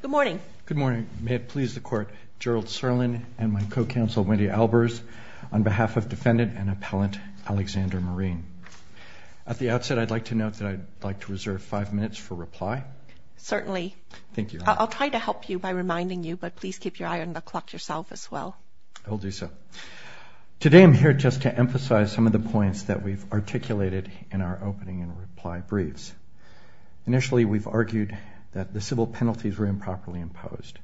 Good morning. Good morning. May it please the Court, Gerald Serlin and my co-counsel, Wendy Albers, on behalf of Defendant and Appellant Alexander Marine. At the outset, I'd like to note that I'd like to reserve five minutes for reply. Certainly. Thank you. I'll try to help you by reminding you, but please keep your eye on the clock yourself as well. I will do so. Today I'm here just to emphasize some of the points that we've articulated in our opening and reply briefs. Initially, we've argued that the civil penalties were improperly imposed.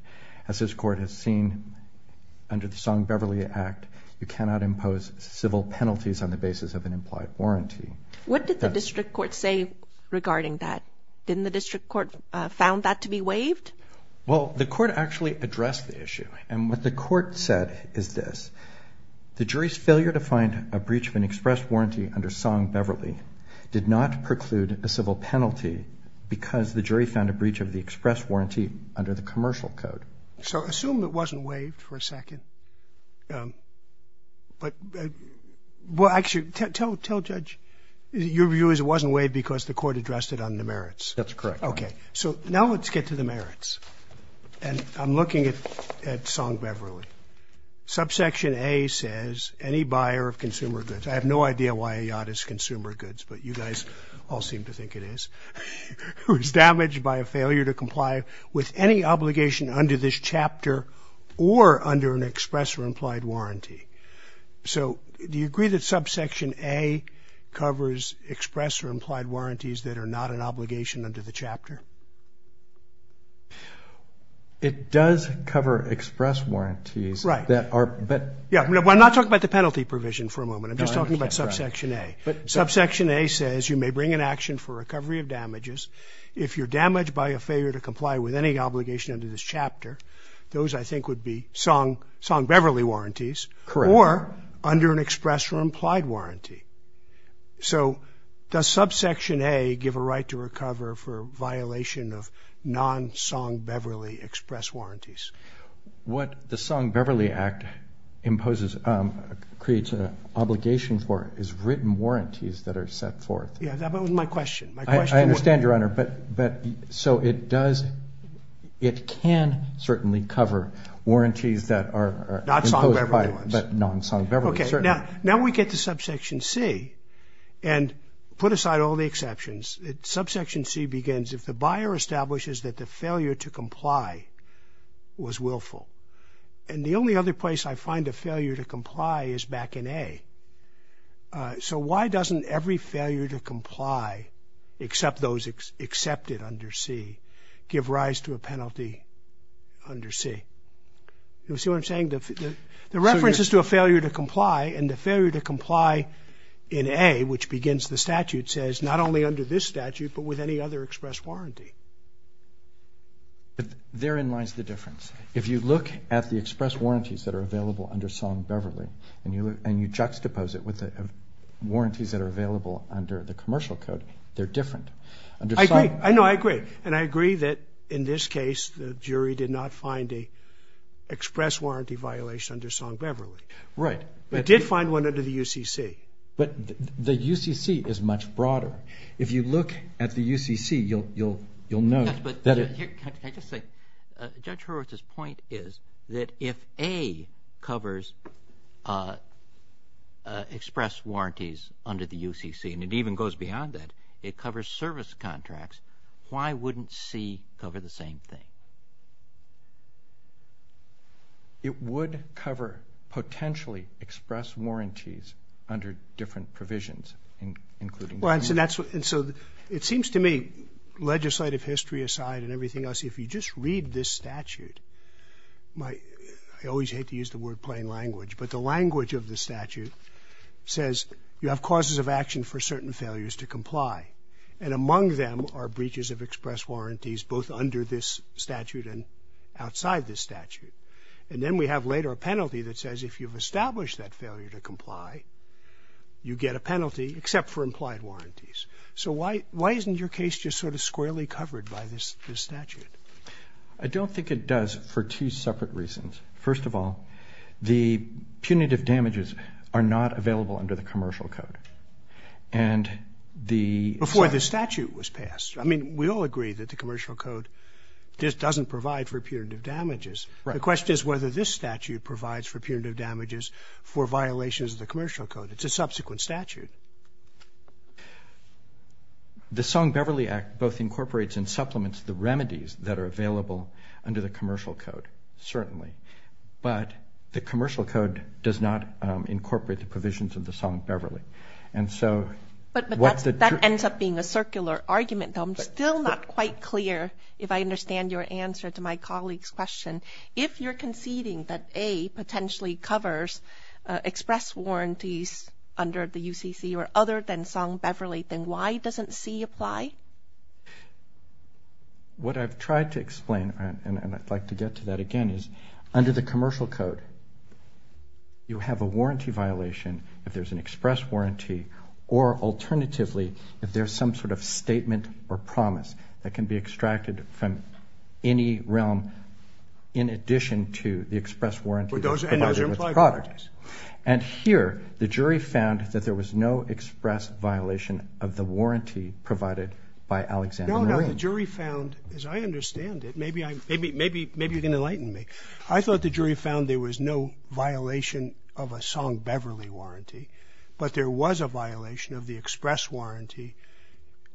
As this Court has seen under the Song-Beverly Act, you cannot impose civil penalties on the basis of an implied warranty. What did the District Court say regarding that? Didn't the District Court found that to be waived? Well, the Court actually addressed the issue. And what the Court said is this. The jury's failure to find a breach of an expressed warranty under Song-Beverly did not preclude a civil penalty because the jury found a breach of the expressed warranty under the commercial code. So assume it wasn't waived for a second. But, well, actually, tell Judge your view is it wasn't waived because the Court addressed it on the merits. That's correct. Okay. So now let's get to the merits. And I'm looking at Song-Beverly. Subsection A says any buyer of consumer goods. I have no idea why a yacht is consumer goods, but you guys all seem to think it is. Who is damaged by a failure to comply with any obligation under this chapter or under an express or implied warranty. So do you agree that subsection A covers express or implied warranties that are not an obligation under the chapter? It does cover express warranties. Right. I'm not talking about the penalty provision for a moment. I'm just talking about subsection A. Subsection A says you may bring an action for recovery of damages if you're damaged by a failure to comply with any obligation under this chapter. Those, I think, would be Song-Beverly warranties. Correct. Or under an express or implied warranty. So does subsection A give a right to recover for violation of non-Song-Beverly express warranties? What the Song-Beverly Act imposes, creates an obligation for is written warranties that are set forth. Yeah, that was my question. I understand, Your Honor, but so it does, it can certainly cover warranties that are imposed by non-Song-Beverly. Okay. Now we get to subsection C and put aside all the exceptions. Subsection C begins, if the buyer establishes that the failure to comply was willful. And the only other place I find a failure to comply is back in A. So why doesn't every failure to comply, except those accepted under C, give rise to a penalty under C? You see what I'm saying? The reference is to a failure to comply, and the failure to comply in A, which begins the statute, says not only under this statute, but with any other express warranty. Therein lies the difference. If you look at the express warranties that are available under Song-Beverly, and you juxtapose it with warranties that are available under the commercial code, they're different. I agree. No, I agree. And I agree that, in this case, the jury did not find an express warranty violation under Song-Beverly. Right. They did find one under the UCC. But the UCC is much broader. If you look at the UCC, you'll note that it – Can I just say, Judge Horowitz's point is that if A covers express warranties under the UCC, and it even goes beyond that, it covers service contracts, why wouldn't C cover the same thing? It would cover potentially express warranties under different provisions, including the UCC. And so it seems to me, legislative history aside and everything else, if you just read this statute, I always hate to use the word plain language, but the language of the statute says you have causes of action for certain failures to comply, and among them are breaches of express warranties both under this statute and outside this statute. And then we have later a penalty that says if you've established that failure to comply, you get a penalty except for implied warranties. So why isn't your case just sort of squarely covered by this statute? I don't think it does for two separate reasons. First of all, the punitive damages are not available under the commercial code. And the – Before the statute was passed. I mean, we all agree that the commercial code just doesn't provide for punitive damages. The question is whether this statute provides for punitive damages for violations of the commercial code. It's a subsequent statute. The Song-Beverly Act both incorporates and supplements the remedies that are available under the commercial code, certainly. But the commercial code does not incorporate the provisions of the Song-Beverly. And so what the – But that ends up being a circular argument. I'm still not quite clear if I understand your answer to my colleague's question. If you're conceding that A potentially covers express warranties under the UCC or other than Song-Beverly, then why doesn't C apply? What I've tried to explain, and I'd like to get to that again, is under the commercial code, you have a warranty violation if there's an express warranty, or alternatively, if there's some sort of statement or promise that can be extracted from any realm in addition to the express warranties provided with the product. And those are implied warranties. And here, the jury found that there was no express violation of the warranty provided by Alexander Marin. No, no. The jury found, as I understand it – maybe you can enlighten me. I thought the jury found there was no violation of a Song-Beverly warranty, but there was a violation of the express warranty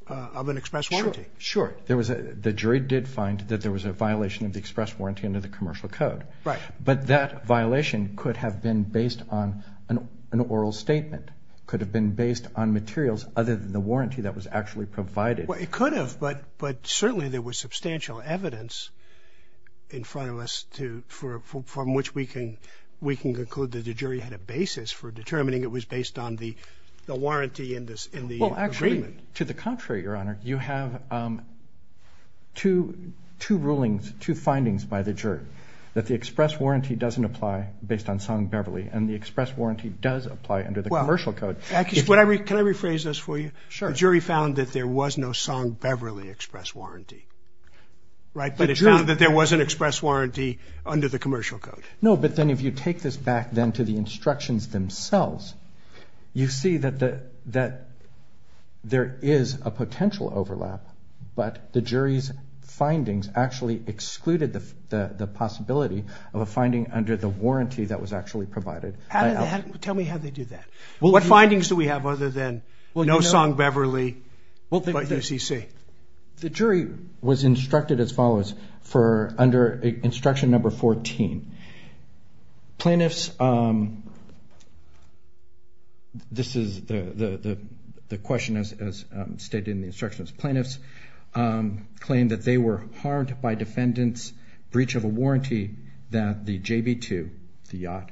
of an express warranty. Sure. The jury did find that there was a violation of the express warranty under the commercial code. Right. But that violation could have been based on an oral statement, could have been based on materials other than the warranty that was actually provided. Well, it could have, but certainly there was substantial evidence in front of us from which we can conclude that the jury had a basis for determining it was based on the warranty in the agreement. Well, actually, to the contrary, Your Honor. You have two rulings, two findings by the jury, that the express warranty doesn't apply based on Song-Beverly, and the express warranty does apply under the commercial code. Can I rephrase this for you? Sure. The jury found that there was no Song-Beverly express warranty, right? But it found that there was an express warranty under the commercial code. No, but then if you take this back then to the instructions themselves, you see that there is a potential overlap, but the jury's findings actually excluded the possibility of a finding under the warranty that was actually provided. Tell me how they did that. What findings do we have other than no Song-Beverly but UCC? The jury was instructed as follows under instruction number 14. Plaintiffs, this is the question as stated in the instructions, plaintiffs claimed that they were harmed by defendants' breach of a warranty that the JB2, the yacht,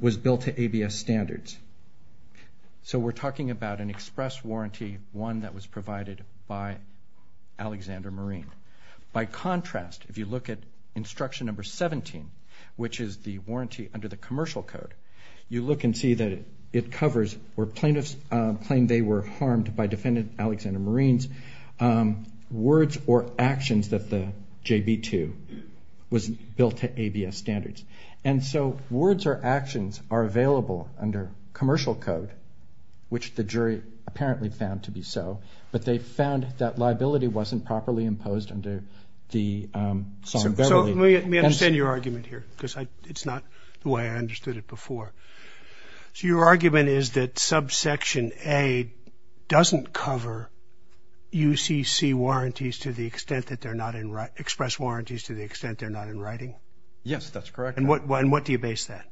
was built to ABS standards. So we're talking about an express warranty, one that was provided by Alexander Marine. By contrast, if you look at instruction number 17, which is the warranty under the commercial code, you look and see that it covers where plaintiffs claimed they were harmed by defendant Alexander Marine's words or actions that the JB2 was built to ABS standards. And so words or actions are available under commercial code, which the jury apparently found to be so, but they found that liability wasn't properly imposed under the Song-Beverly. So let me understand your argument here because it's not the way I understood it before. So your argument is that subsection A doesn't cover UCC warranties to the extent that they're not in—express warranties to the extent they're not in writing? Yes, that's correct. And what do you base that?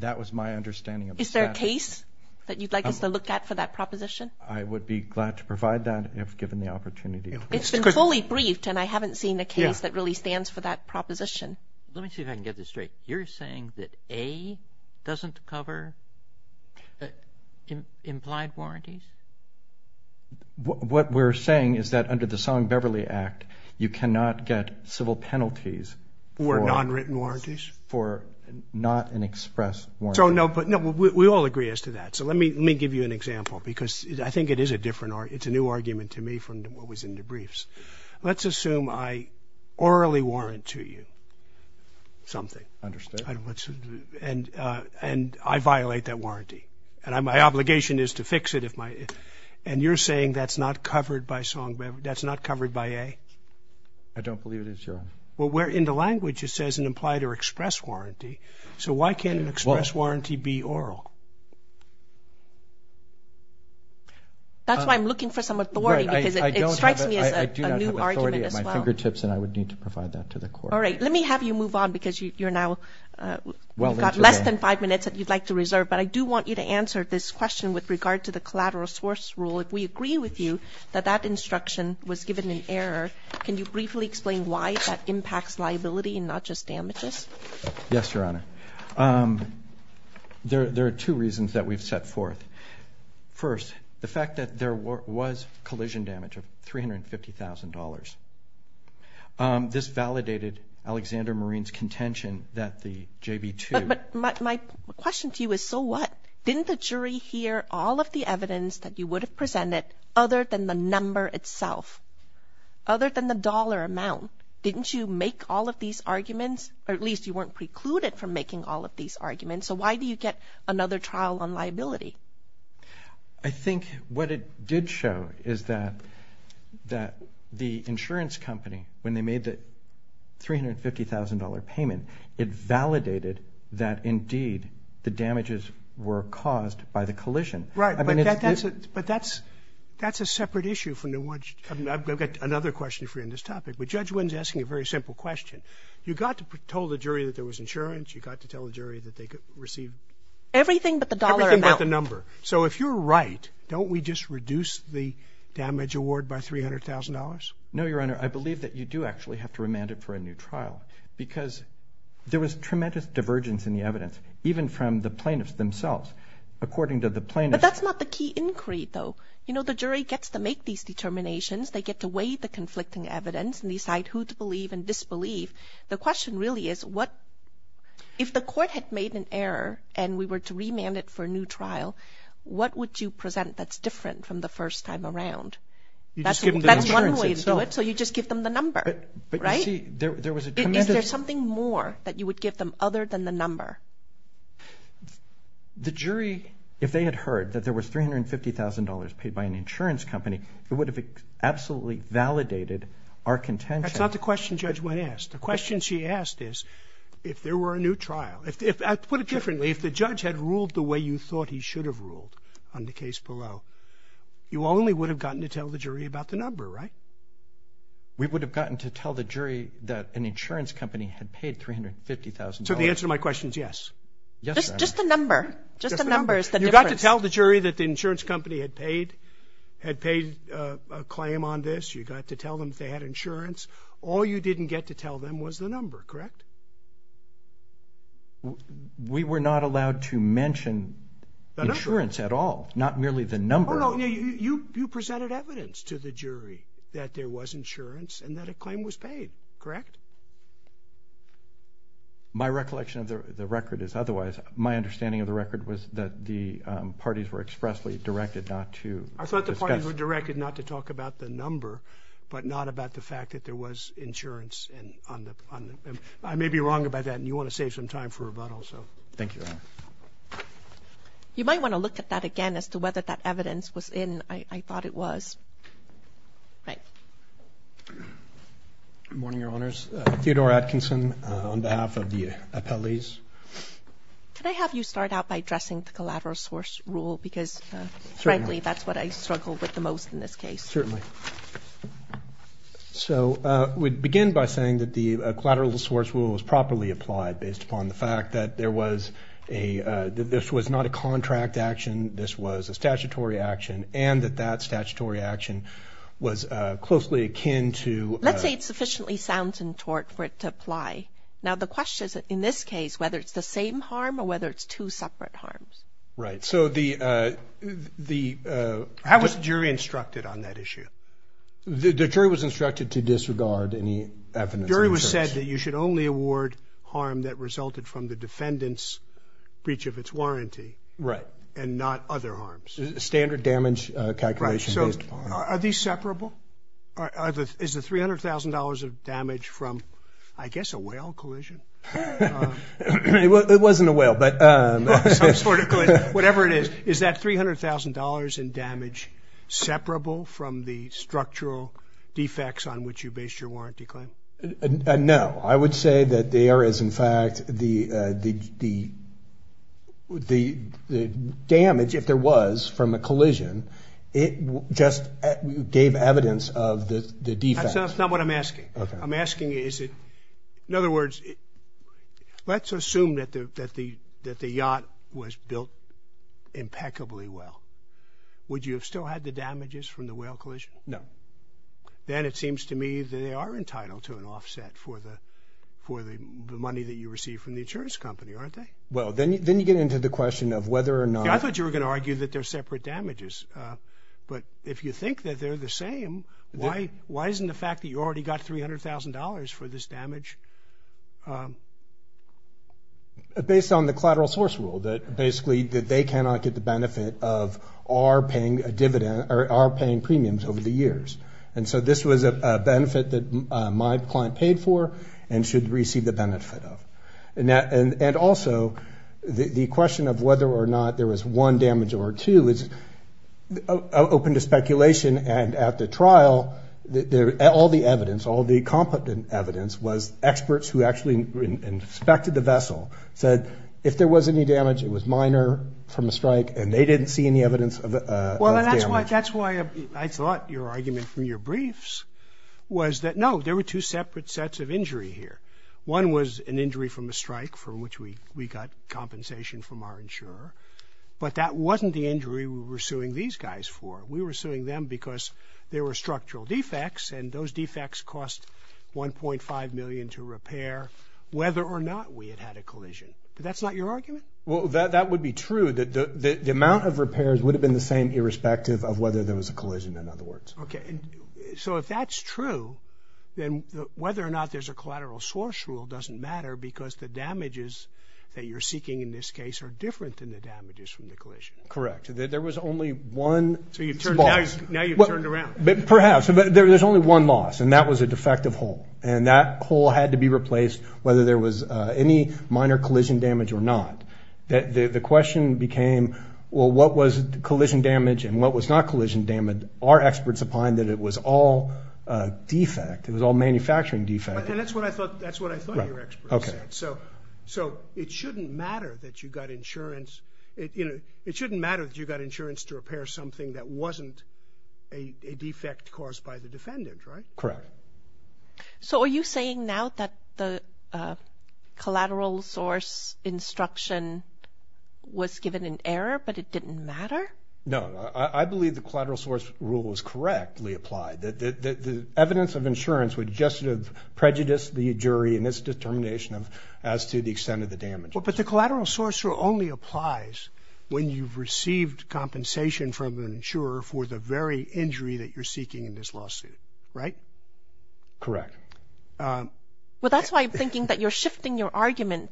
That was my understanding. Is there a case that you'd like us to look at for that proposition? I would be glad to provide that if given the opportunity. It's been fully briefed, and I haven't seen a case that really stands for that proposition. Let me see if I can get this straight. You're saying that A doesn't cover implied warranties? What we're saying is that under the Song-Beverly Act, you cannot get civil penalties for— For nonwritten warranties? For not in express warranties. No, but we all agree as to that. So let me give you an example because I think it is a different argument. It's a new argument to me from what was in the briefs. Let's assume I orally warrant to you something. Understood. And I violate that warranty. And my obligation is to fix it. And you're saying that's not covered by A? I don't believe it is, Your Honor. Well, in the language it says an implied or express warranty. So why can't an express warranty be oral? That's why I'm looking for some authority because it strikes me as a new argument as well. I do not have authority at my fingertips, and I would need to provide that to the court. All right. Let me have you move on because you've got less than five minutes that you'd like to reserve. But I do want you to answer this question with regard to the collateral source rule. If we agree with you that that instruction was given in error, can you briefly explain why that impacts liability and not just damages? Yes, Your Honor. There are two reasons that we've set forth. First, the fact that there was collision damage of $350,000. This validated Alexander Marine's contention that the JB2. But my question to you is, so what? Didn't the jury hear all of the evidence that you would have presented other than the number itself? Other than the dollar amount, didn't you make all of these arguments? Or at least you weren't precluded from making all of these arguments. So why do you get another trial on liability? I think what it did show is that the insurance company, when they made the $350,000 payment, it validated that, indeed, the damages were caused by the collision. Right. But that's a separate issue from the one you're talking about. I've got another question for you on this topic. But Judge Wynn's asking a very simple question. You got to tell the jury that there was insurance. You got to tell the jury that they could receive everything but the dollar amount. Everything but the number. So if you're right, don't we just reduce the damage award by $300,000? No, Your Honor. I believe that you do actually have to remand it for a new trial because there was tremendous divergence in the evidence, even from the plaintiffs themselves. According to the plaintiffs. But that's not the key inquiry, though. You know, the jury gets to make these determinations. They get to weigh the conflicting evidence and decide who to believe and disbelieve. The question really is, if the court had made an error and we were to remand it for a new trial, what would you present that's different from the first time around? That's one way to do it, so you just give them the number. Right? Is there something more that you would give them other than the number? The jury, if they had heard that there was $350,000 paid by an insurance company, it would have absolutely validated our contention. That's not the question Judge Wynn asked. The question she asked is if there were a new trial. To put it differently, if the judge had ruled the way you thought he should have ruled on the case below, you only would have gotten to tell the jury about the number, right? We would have gotten to tell the jury that an insurance company had paid $350,000. So the answer to my question is yes. Yes, Your Honor. Just the number. Just the number is the difference. You got to tell the jury that the insurance company had paid a claim on this. You got to tell them that they had insurance. All you didn't get to tell them was the number, correct? We were not allowed to mention insurance at all, not merely the number. You presented evidence to the jury that there was insurance and that a claim was paid, correct? My recollection of the record is otherwise. My understanding of the record was that the parties were expressly directed not to discuss. I thought the parties were directed not to talk about the number, but not about the fact that there was insurance. I may be wrong about that, and you want to save some time for rebuttal. Thank you, Your Honor. You might want to look at that again as to whether that evidence was in. I thought it was. Right. Good morning, Your Honors. Theodore Atkinson on behalf of the appellees. Can I have you start out by addressing the collateral source rule? Because, frankly, that's what I struggle with the most in this case. Certainly. So we begin by saying that the collateral source rule was properly applied based upon the fact that this was not a contract action, this was a statutory action, and that that statutory action was closely akin to... Let's say it sufficiently sounds in tort for it to apply. Now the question is, in this case, whether it's the same harm or whether it's two separate harms. Right. How was the jury instructed on that issue? The jury was instructed to disregard any evidence of insurance. You said that you should only award harm that resulted from the defendant's breach of its warranty. Right. And not other harms. Standard damage calculation based... Are these separable? Is the $300,000 of damage from, I guess, a whale collision? It wasn't a whale, but... Whatever it is, is that $300,000 in damage separable from the structural defects on which you based your warranty claim? No. I would say that there is, in fact, the damage, if there was, from a collision, it just gave evidence of the defect. That's not what I'm asking. Okay. I'm asking is it... In other words, let's assume that the yacht was built impeccably well. Would you have still had the damages from the whale collision? No. Then it seems to me that they are entitled to an offset for the money that you receive from the insurance company, aren't they? Well, then you get into the question of whether or not... See, I thought you were going to argue that they're separate damages. But if you think that they're the same, why isn't the fact that you already got $300,000 for this damage? Based on the collateral source rule, that they cannot get the benefit of our paying premiums over the years. And so this was a benefit that my client paid for and should receive the benefit of. And also, the question of whether or not there was one damage or two is open to speculation. And at the trial, all the evidence, all the competent evidence, was experts who actually inspected the vessel said if there was any damage, it was minor from a strike, and they didn't see any evidence of damage. Well, that's why I thought your argument from your briefs was that, no, there were two separate sets of injury here. One was an injury from a strike from which we got compensation from our insurer. But that wasn't the injury we were suing these guys for. We were suing them because there were structural defects, and those defects cost $1.5 million to repair whether or not we had had a collision. That's not your argument? Well, that would be true. The amount of repairs would have been the same irrespective of whether there was a collision, in other words. Okay. So if that's true, then whether or not there's a collateral source rule doesn't matter because the damages that you're seeking in this case are different than the damages from the collision. Correct. So now you've turned around. Perhaps. But there's only one loss, and that was a defective hull, and that hull had to be replaced whether there was any minor collision damage or not. The question became, well, what was collision damage and what was not collision damage? Our experts opined that it was all defect. It was all manufacturing defect. And that's what I thought your experts said. Right. Okay. So it shouldn't matter that you got insurance to repair something that wasn't a defect caused by the defendant, right? Correct. So are you saying now that the collateral source instruction was given in error but it didn't matter? No. I believe the collateral source rule was correctly applied. The evidence of insurance would just have prejudiced the jury in its determination as to the extent of the damage. But the collateral source rule only applies when you've received compensation from an insurer for the very injury that you're seeking in this lawsuit, right? Correct. Well, that's why I'm thinking that you're shifting your argument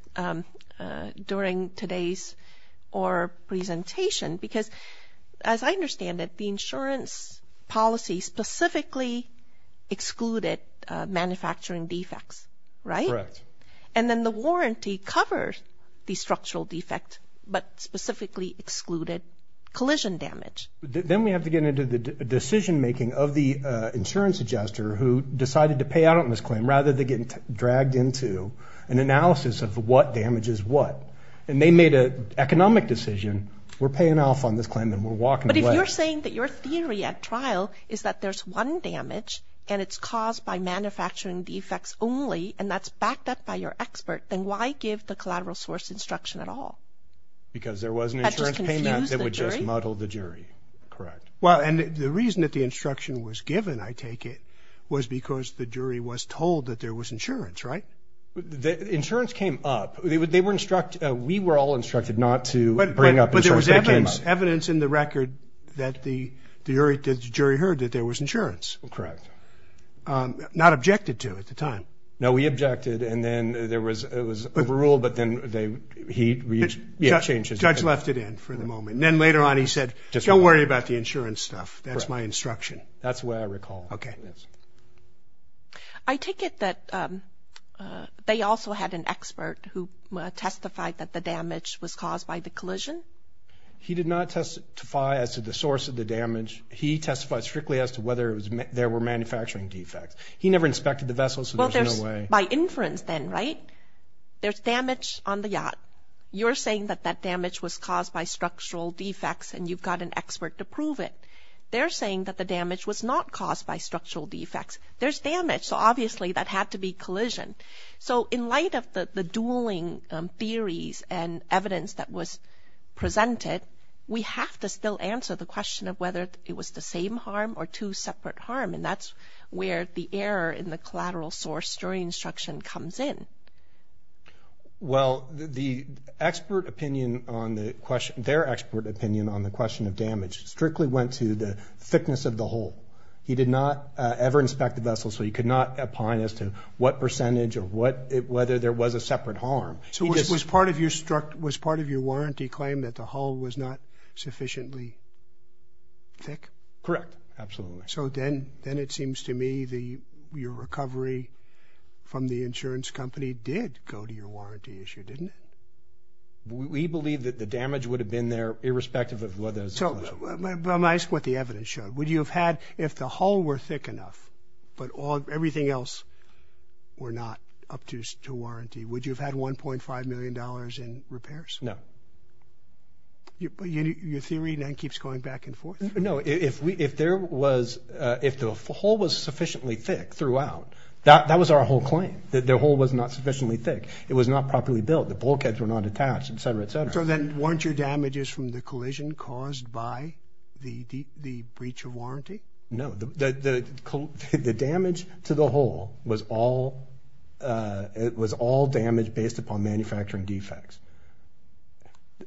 during today's presentation because, as I understand it, the insurance policy specifically excluded manufacturing defects, right? Correct. And then the warranty covers the structural defect but specifically excluded collision damage. Then we have to get into the decision-making of the insurance adjuster who decided to pay out on this claim rather than getting dragged into an analysis of what damage is what. And they made an economic decision, we're paying off on this claim and we're walking away. But if you're saying that your theory at trial is that there's one damage and it's caused by manufacturing defects only and that's backed up by your expert, then why give the collateral source instruction at all? Because there was an insurance payment that would just muddle the jury. Correct. Well, and the reason that the instruction was given, I take it, was because the jury was told that there was insurance, right? The insurance came up. They were instructed, we were all instructed not to bring up insurance. But there was evidence in the record that the jury heard that there was insurance. Correct. Not objected to at the time. No, we objected and then it was overruled but then he changed it. The judge left it in for the moment. And then later on he said, don't worry about the insurance stuff, that's my instruction. That's the way I recall it. Okay. I take it that they also had an expert who testified that the damage was caused by the collision? He did not testify as to the source of the damage. He testified strictly as to whether there were manufacturing defects. He never inspected the vessel so there's no way. By inference then, right? There's damage on the yacht. You're saying that that damage was caused by structural defects and you've got an expert to prove it. They're saying that the damage was not caused by structural defects. There's damage so obviously that had to be collision. So in light of the dueling theories and evidence that was presented, we have to still answer the question of whether it was the same harm or two separate harm and that's where the error in the collateral source jury instruction comes in. Well, their expert opinion on the question of damage strictly went to the thickness of the hole. He did not ever inspect the vessel so he could not opine as to what percentage or whether there was a separate harm. So was part of your warranty claim that the hole was not sufficiently thick? Correct, absolutely. So then it seems to me your recovery from the insurance company did go to your warranty issue, didn't it? We believe that the damage would have been there irrespective of whether there was a collision. But I'm asking what the evidence showed. Would you have had, if the hole were thick enough but everything else were not up to warranty, would you have had $1.5 million in repairs? No. Your theory then keeps going back and forth. No, if the hole was sufficiently thick throughout, that was our whole claim, that the hole was not sufficiently thick. It was not properly built. The bulkheads were not attached, et cetera, et cetera. So then weren't your damages from the collision caused by the breach of warranty? No. The damage to the hole was all damage based upon manufacturing defects.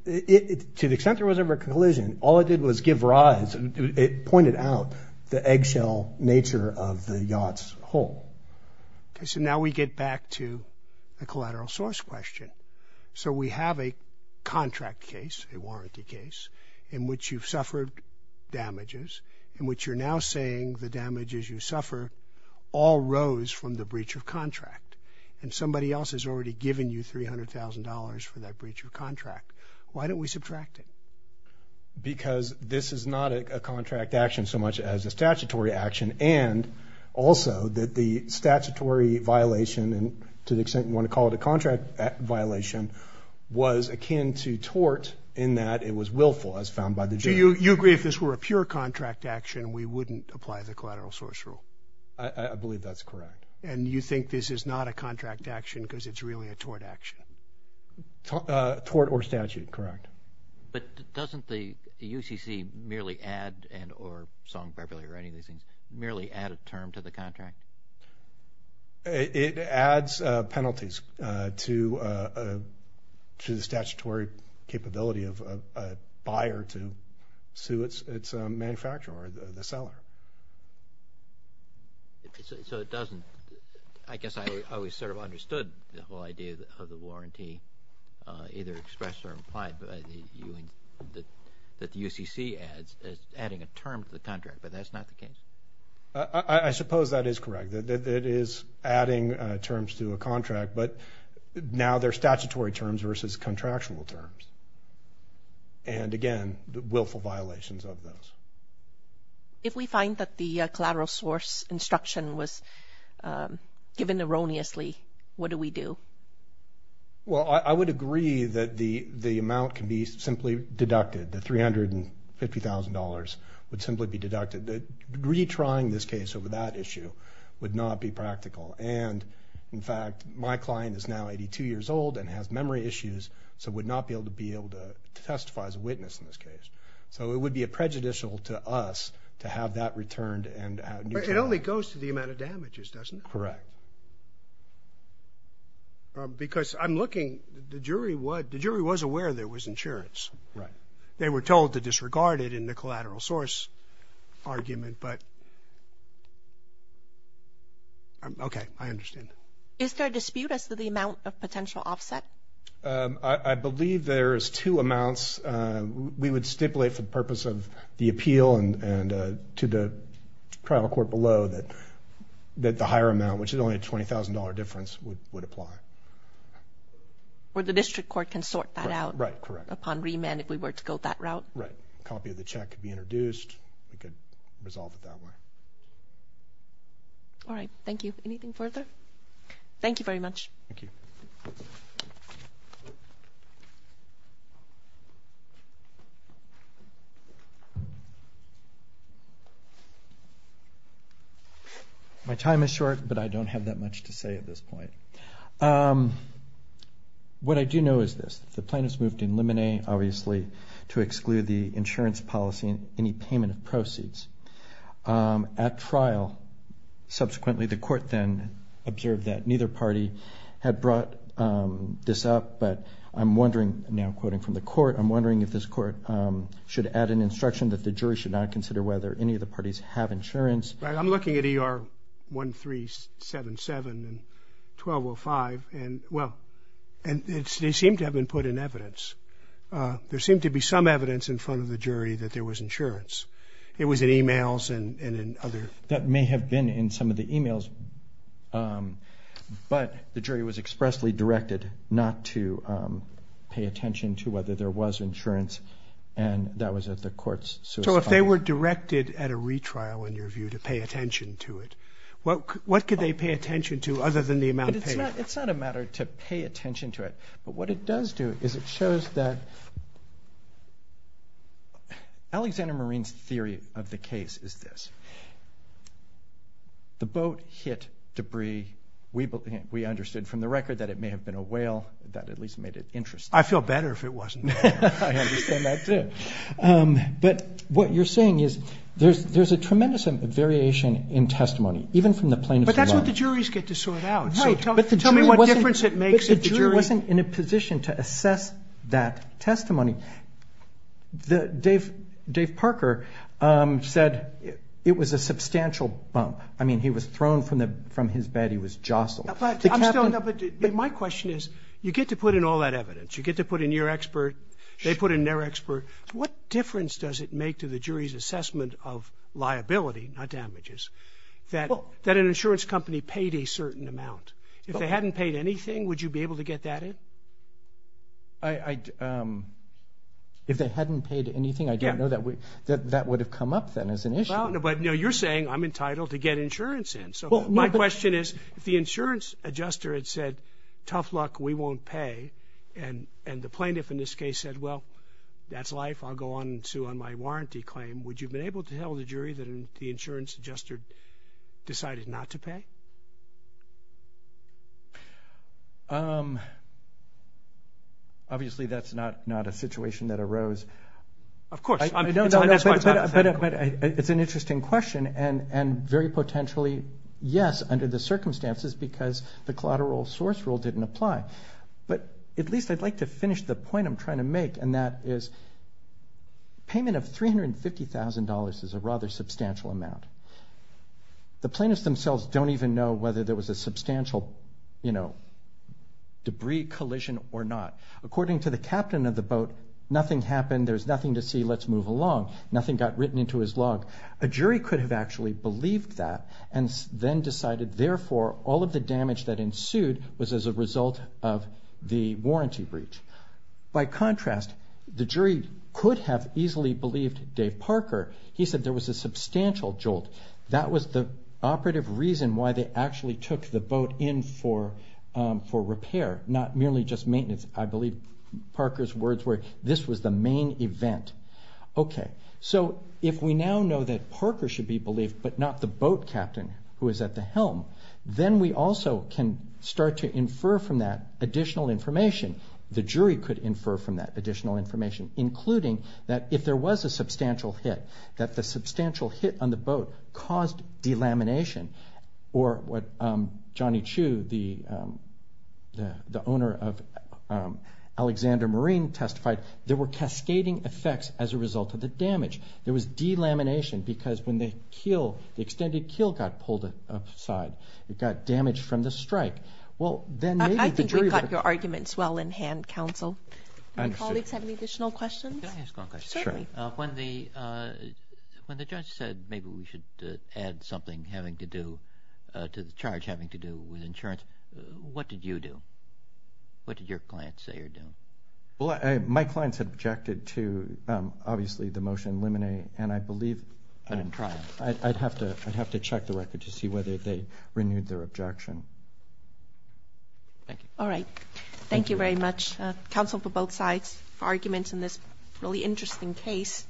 To the extent there was ever a collision, all it did was give rise. It pointed out the eggshell nature of the yacht's hull. Okay, so now we get back to the collateral source question. So we have a contract case, a warranty case, in which you've suffered damages, in which you're now saying the damages you suffer all rose from the breach of contract, and somebody else has already given you $300,000 for that breach of contract. Why don't we subtract it? Because this is not a contract action so much as a statutory action and also that the statutory violation, and to the extent you want to call it a contract violation, was akin to tort in that it was willful, as found by the jury. So you agree if this were a pure contract action, we wouldn't apply the collateral source rule? I believe that's correct. And you think this is not a contract action because it's really a tort action? Tort or statute, correct. But doesn't the UCC merely add, and or Song Beverly or any of these things, merely add a term to the contract? It adds penalties to the statutory capability of a buyer to sue its manufacturer, the seller. So it doesn't. I guess I always sort of understood the whole idea of the warranty either expressed or implied, that the UCC adds, as adding a term to the contract, but that's not the case? I suppose that is correct. It is adding terms to a contract, but now they're statutory terms versus contractual terms. And, again, willful violations of those. If we find that the collateral source instruction was given erroneously, what do we do? Well, I would agree that the amount can be simply deducted. The $350,000 would simply be deducted. Retrying this case over that issue would not be practical. And, in fact, my client is now 82 years old and has memory issues, so would not be able to testify as a witness in this case. So it would be prejudicial to us to have that returned. It only goes to the amount of damages, doesn't it? That's correct. Because I'm looking, the jury was aware there was insurance. Right. They were told to disregard it in the collateral source argument, but, okay, I understand. Is there a dispute as to the amount of potential offset? I believe there is two amounts. We would stipulate for the purpose of the appeal and to the trial court below that the higher amount, which is only a $20,000 difference, would apply. Or the district court can sort that out upon remand if we were to go that route. Right. A copy of the check could be introduced. We could resolve it that way. All right. Thank you. Anything further? Thank you very much. Thank you. My time is short, but I don't have that much to say at this point. What I do know is this. The plaintiffs moved to eliminate, obviously, to exclude the insurance policy and any payment of proceeds. At trial, subsequently the court then observed that neither party had brought this up, but I'm wondering, now quoting from the court, I'm wondering if this court should add an instruction that the jury should not consider whether any of the parties have insurance. I'm looking at ER 1377 and 1205, and, well, they seem to have been put in evidence. There seemed to be some evidence in front of the jury that there was insurance. It was in e-mails and in other. That may have been in some of the e-mails, but the jury was expressly directed not to pay attention to whether there was insurance, and that was at the court's suicide. So if they were directed at a retrial, in your view, to pay attention to it, what could they pay attention to other than the amount paid? It's not a matter to pay attention to it, but what it does do is it shows that Alexander Marine's theory of the case is this. The boat hit debris. We understood from the record that it may have been a whale. That at least made it interesting. I'd feel better if it wasn't a whale. I understand that, too. But what you're saying is there's a tremendous variation in testimony, even from the plaintiff's line. But that's what the juries get to sort out. No, but the jury wasn't in a position to assess that testimony. Dave Parker said it was a substantial bump. I mean, he was thrown from his bed. He was jostled. But my question is, you get to put in all that evidence. You get to put in your expert. They put in their expert. What difference does it make to the jury's assessment of liability, not damages, that an insurance company paid a certain amount? If they hadn't paid anything, would you be able to get that in? If they hadn't paid anything, I don't know that that would have come up then as an issue. But, you know, you're saying I'm entitled to get insurance in. So my question is, if the insurance adjuster had said, tough luck, we won't pay, and the plaintiff in this case said, well, that's life, I'll go on and sue on my warranty claim, would you have been able to tell the jury that the insurance adjuster decided not to pay? Obviously, that's not a situation that arose. Of course. I don't know. But it's an interesting question, and very potentially, yes, under the circumstances, because the collateral source rule didn't apply. But at least I'd like to finish the point I'm trying to make, and that is payment of $350,000 is a rather substantial amount. The plaintiffs themselves don't even know whether there was a substantial, you know, debris collision or not. According to the captain of the boat, nothing happened, there's nothing to see, let's move along. Nothing got written into his log. A jury could have actually believed that and then decided, therefore, all of the damage that ensued was as a result of the warranty breach. By contrast, the jury could have easily believed Dave Parker. He said there was a substantial jolt. That was the operative reason why they actually took the boat in for repair, not merely just maintenance. I believe Parker's words were, this was the main event. Okay. So if we now know that Parker should be believed, but not the boat captain who is at the helm, then we also can start to infer from that additional information. The jury could infer from that additional information, including that if there was a substantial hit, that the substantial hit on the boat caused delamination, or what Johnny Chu, the owner of Alexander Marine, testified, there were cascading effects as a result of the damage. There was delamination because when the keel, the extended keel got pulled aside, it got damaged from the strike. Well, then maybe the jury would have- I think we've got your arguments well in hand, counsel. I understand. Do you guys have any additional questions? Can I ask one question? Certainly. When the judge said maybe we should add something having to do, to the charge having to do with insurance, what did you do? What did your clients say you're doing? Well, my clients had objected to, obviously, the motion in limine, and I believe- But in trial. I'd have to check the record to see whether they renewed their objection. Thank you. All right. Thank you very much. Counsel for both sides' arguments in this really interesting case.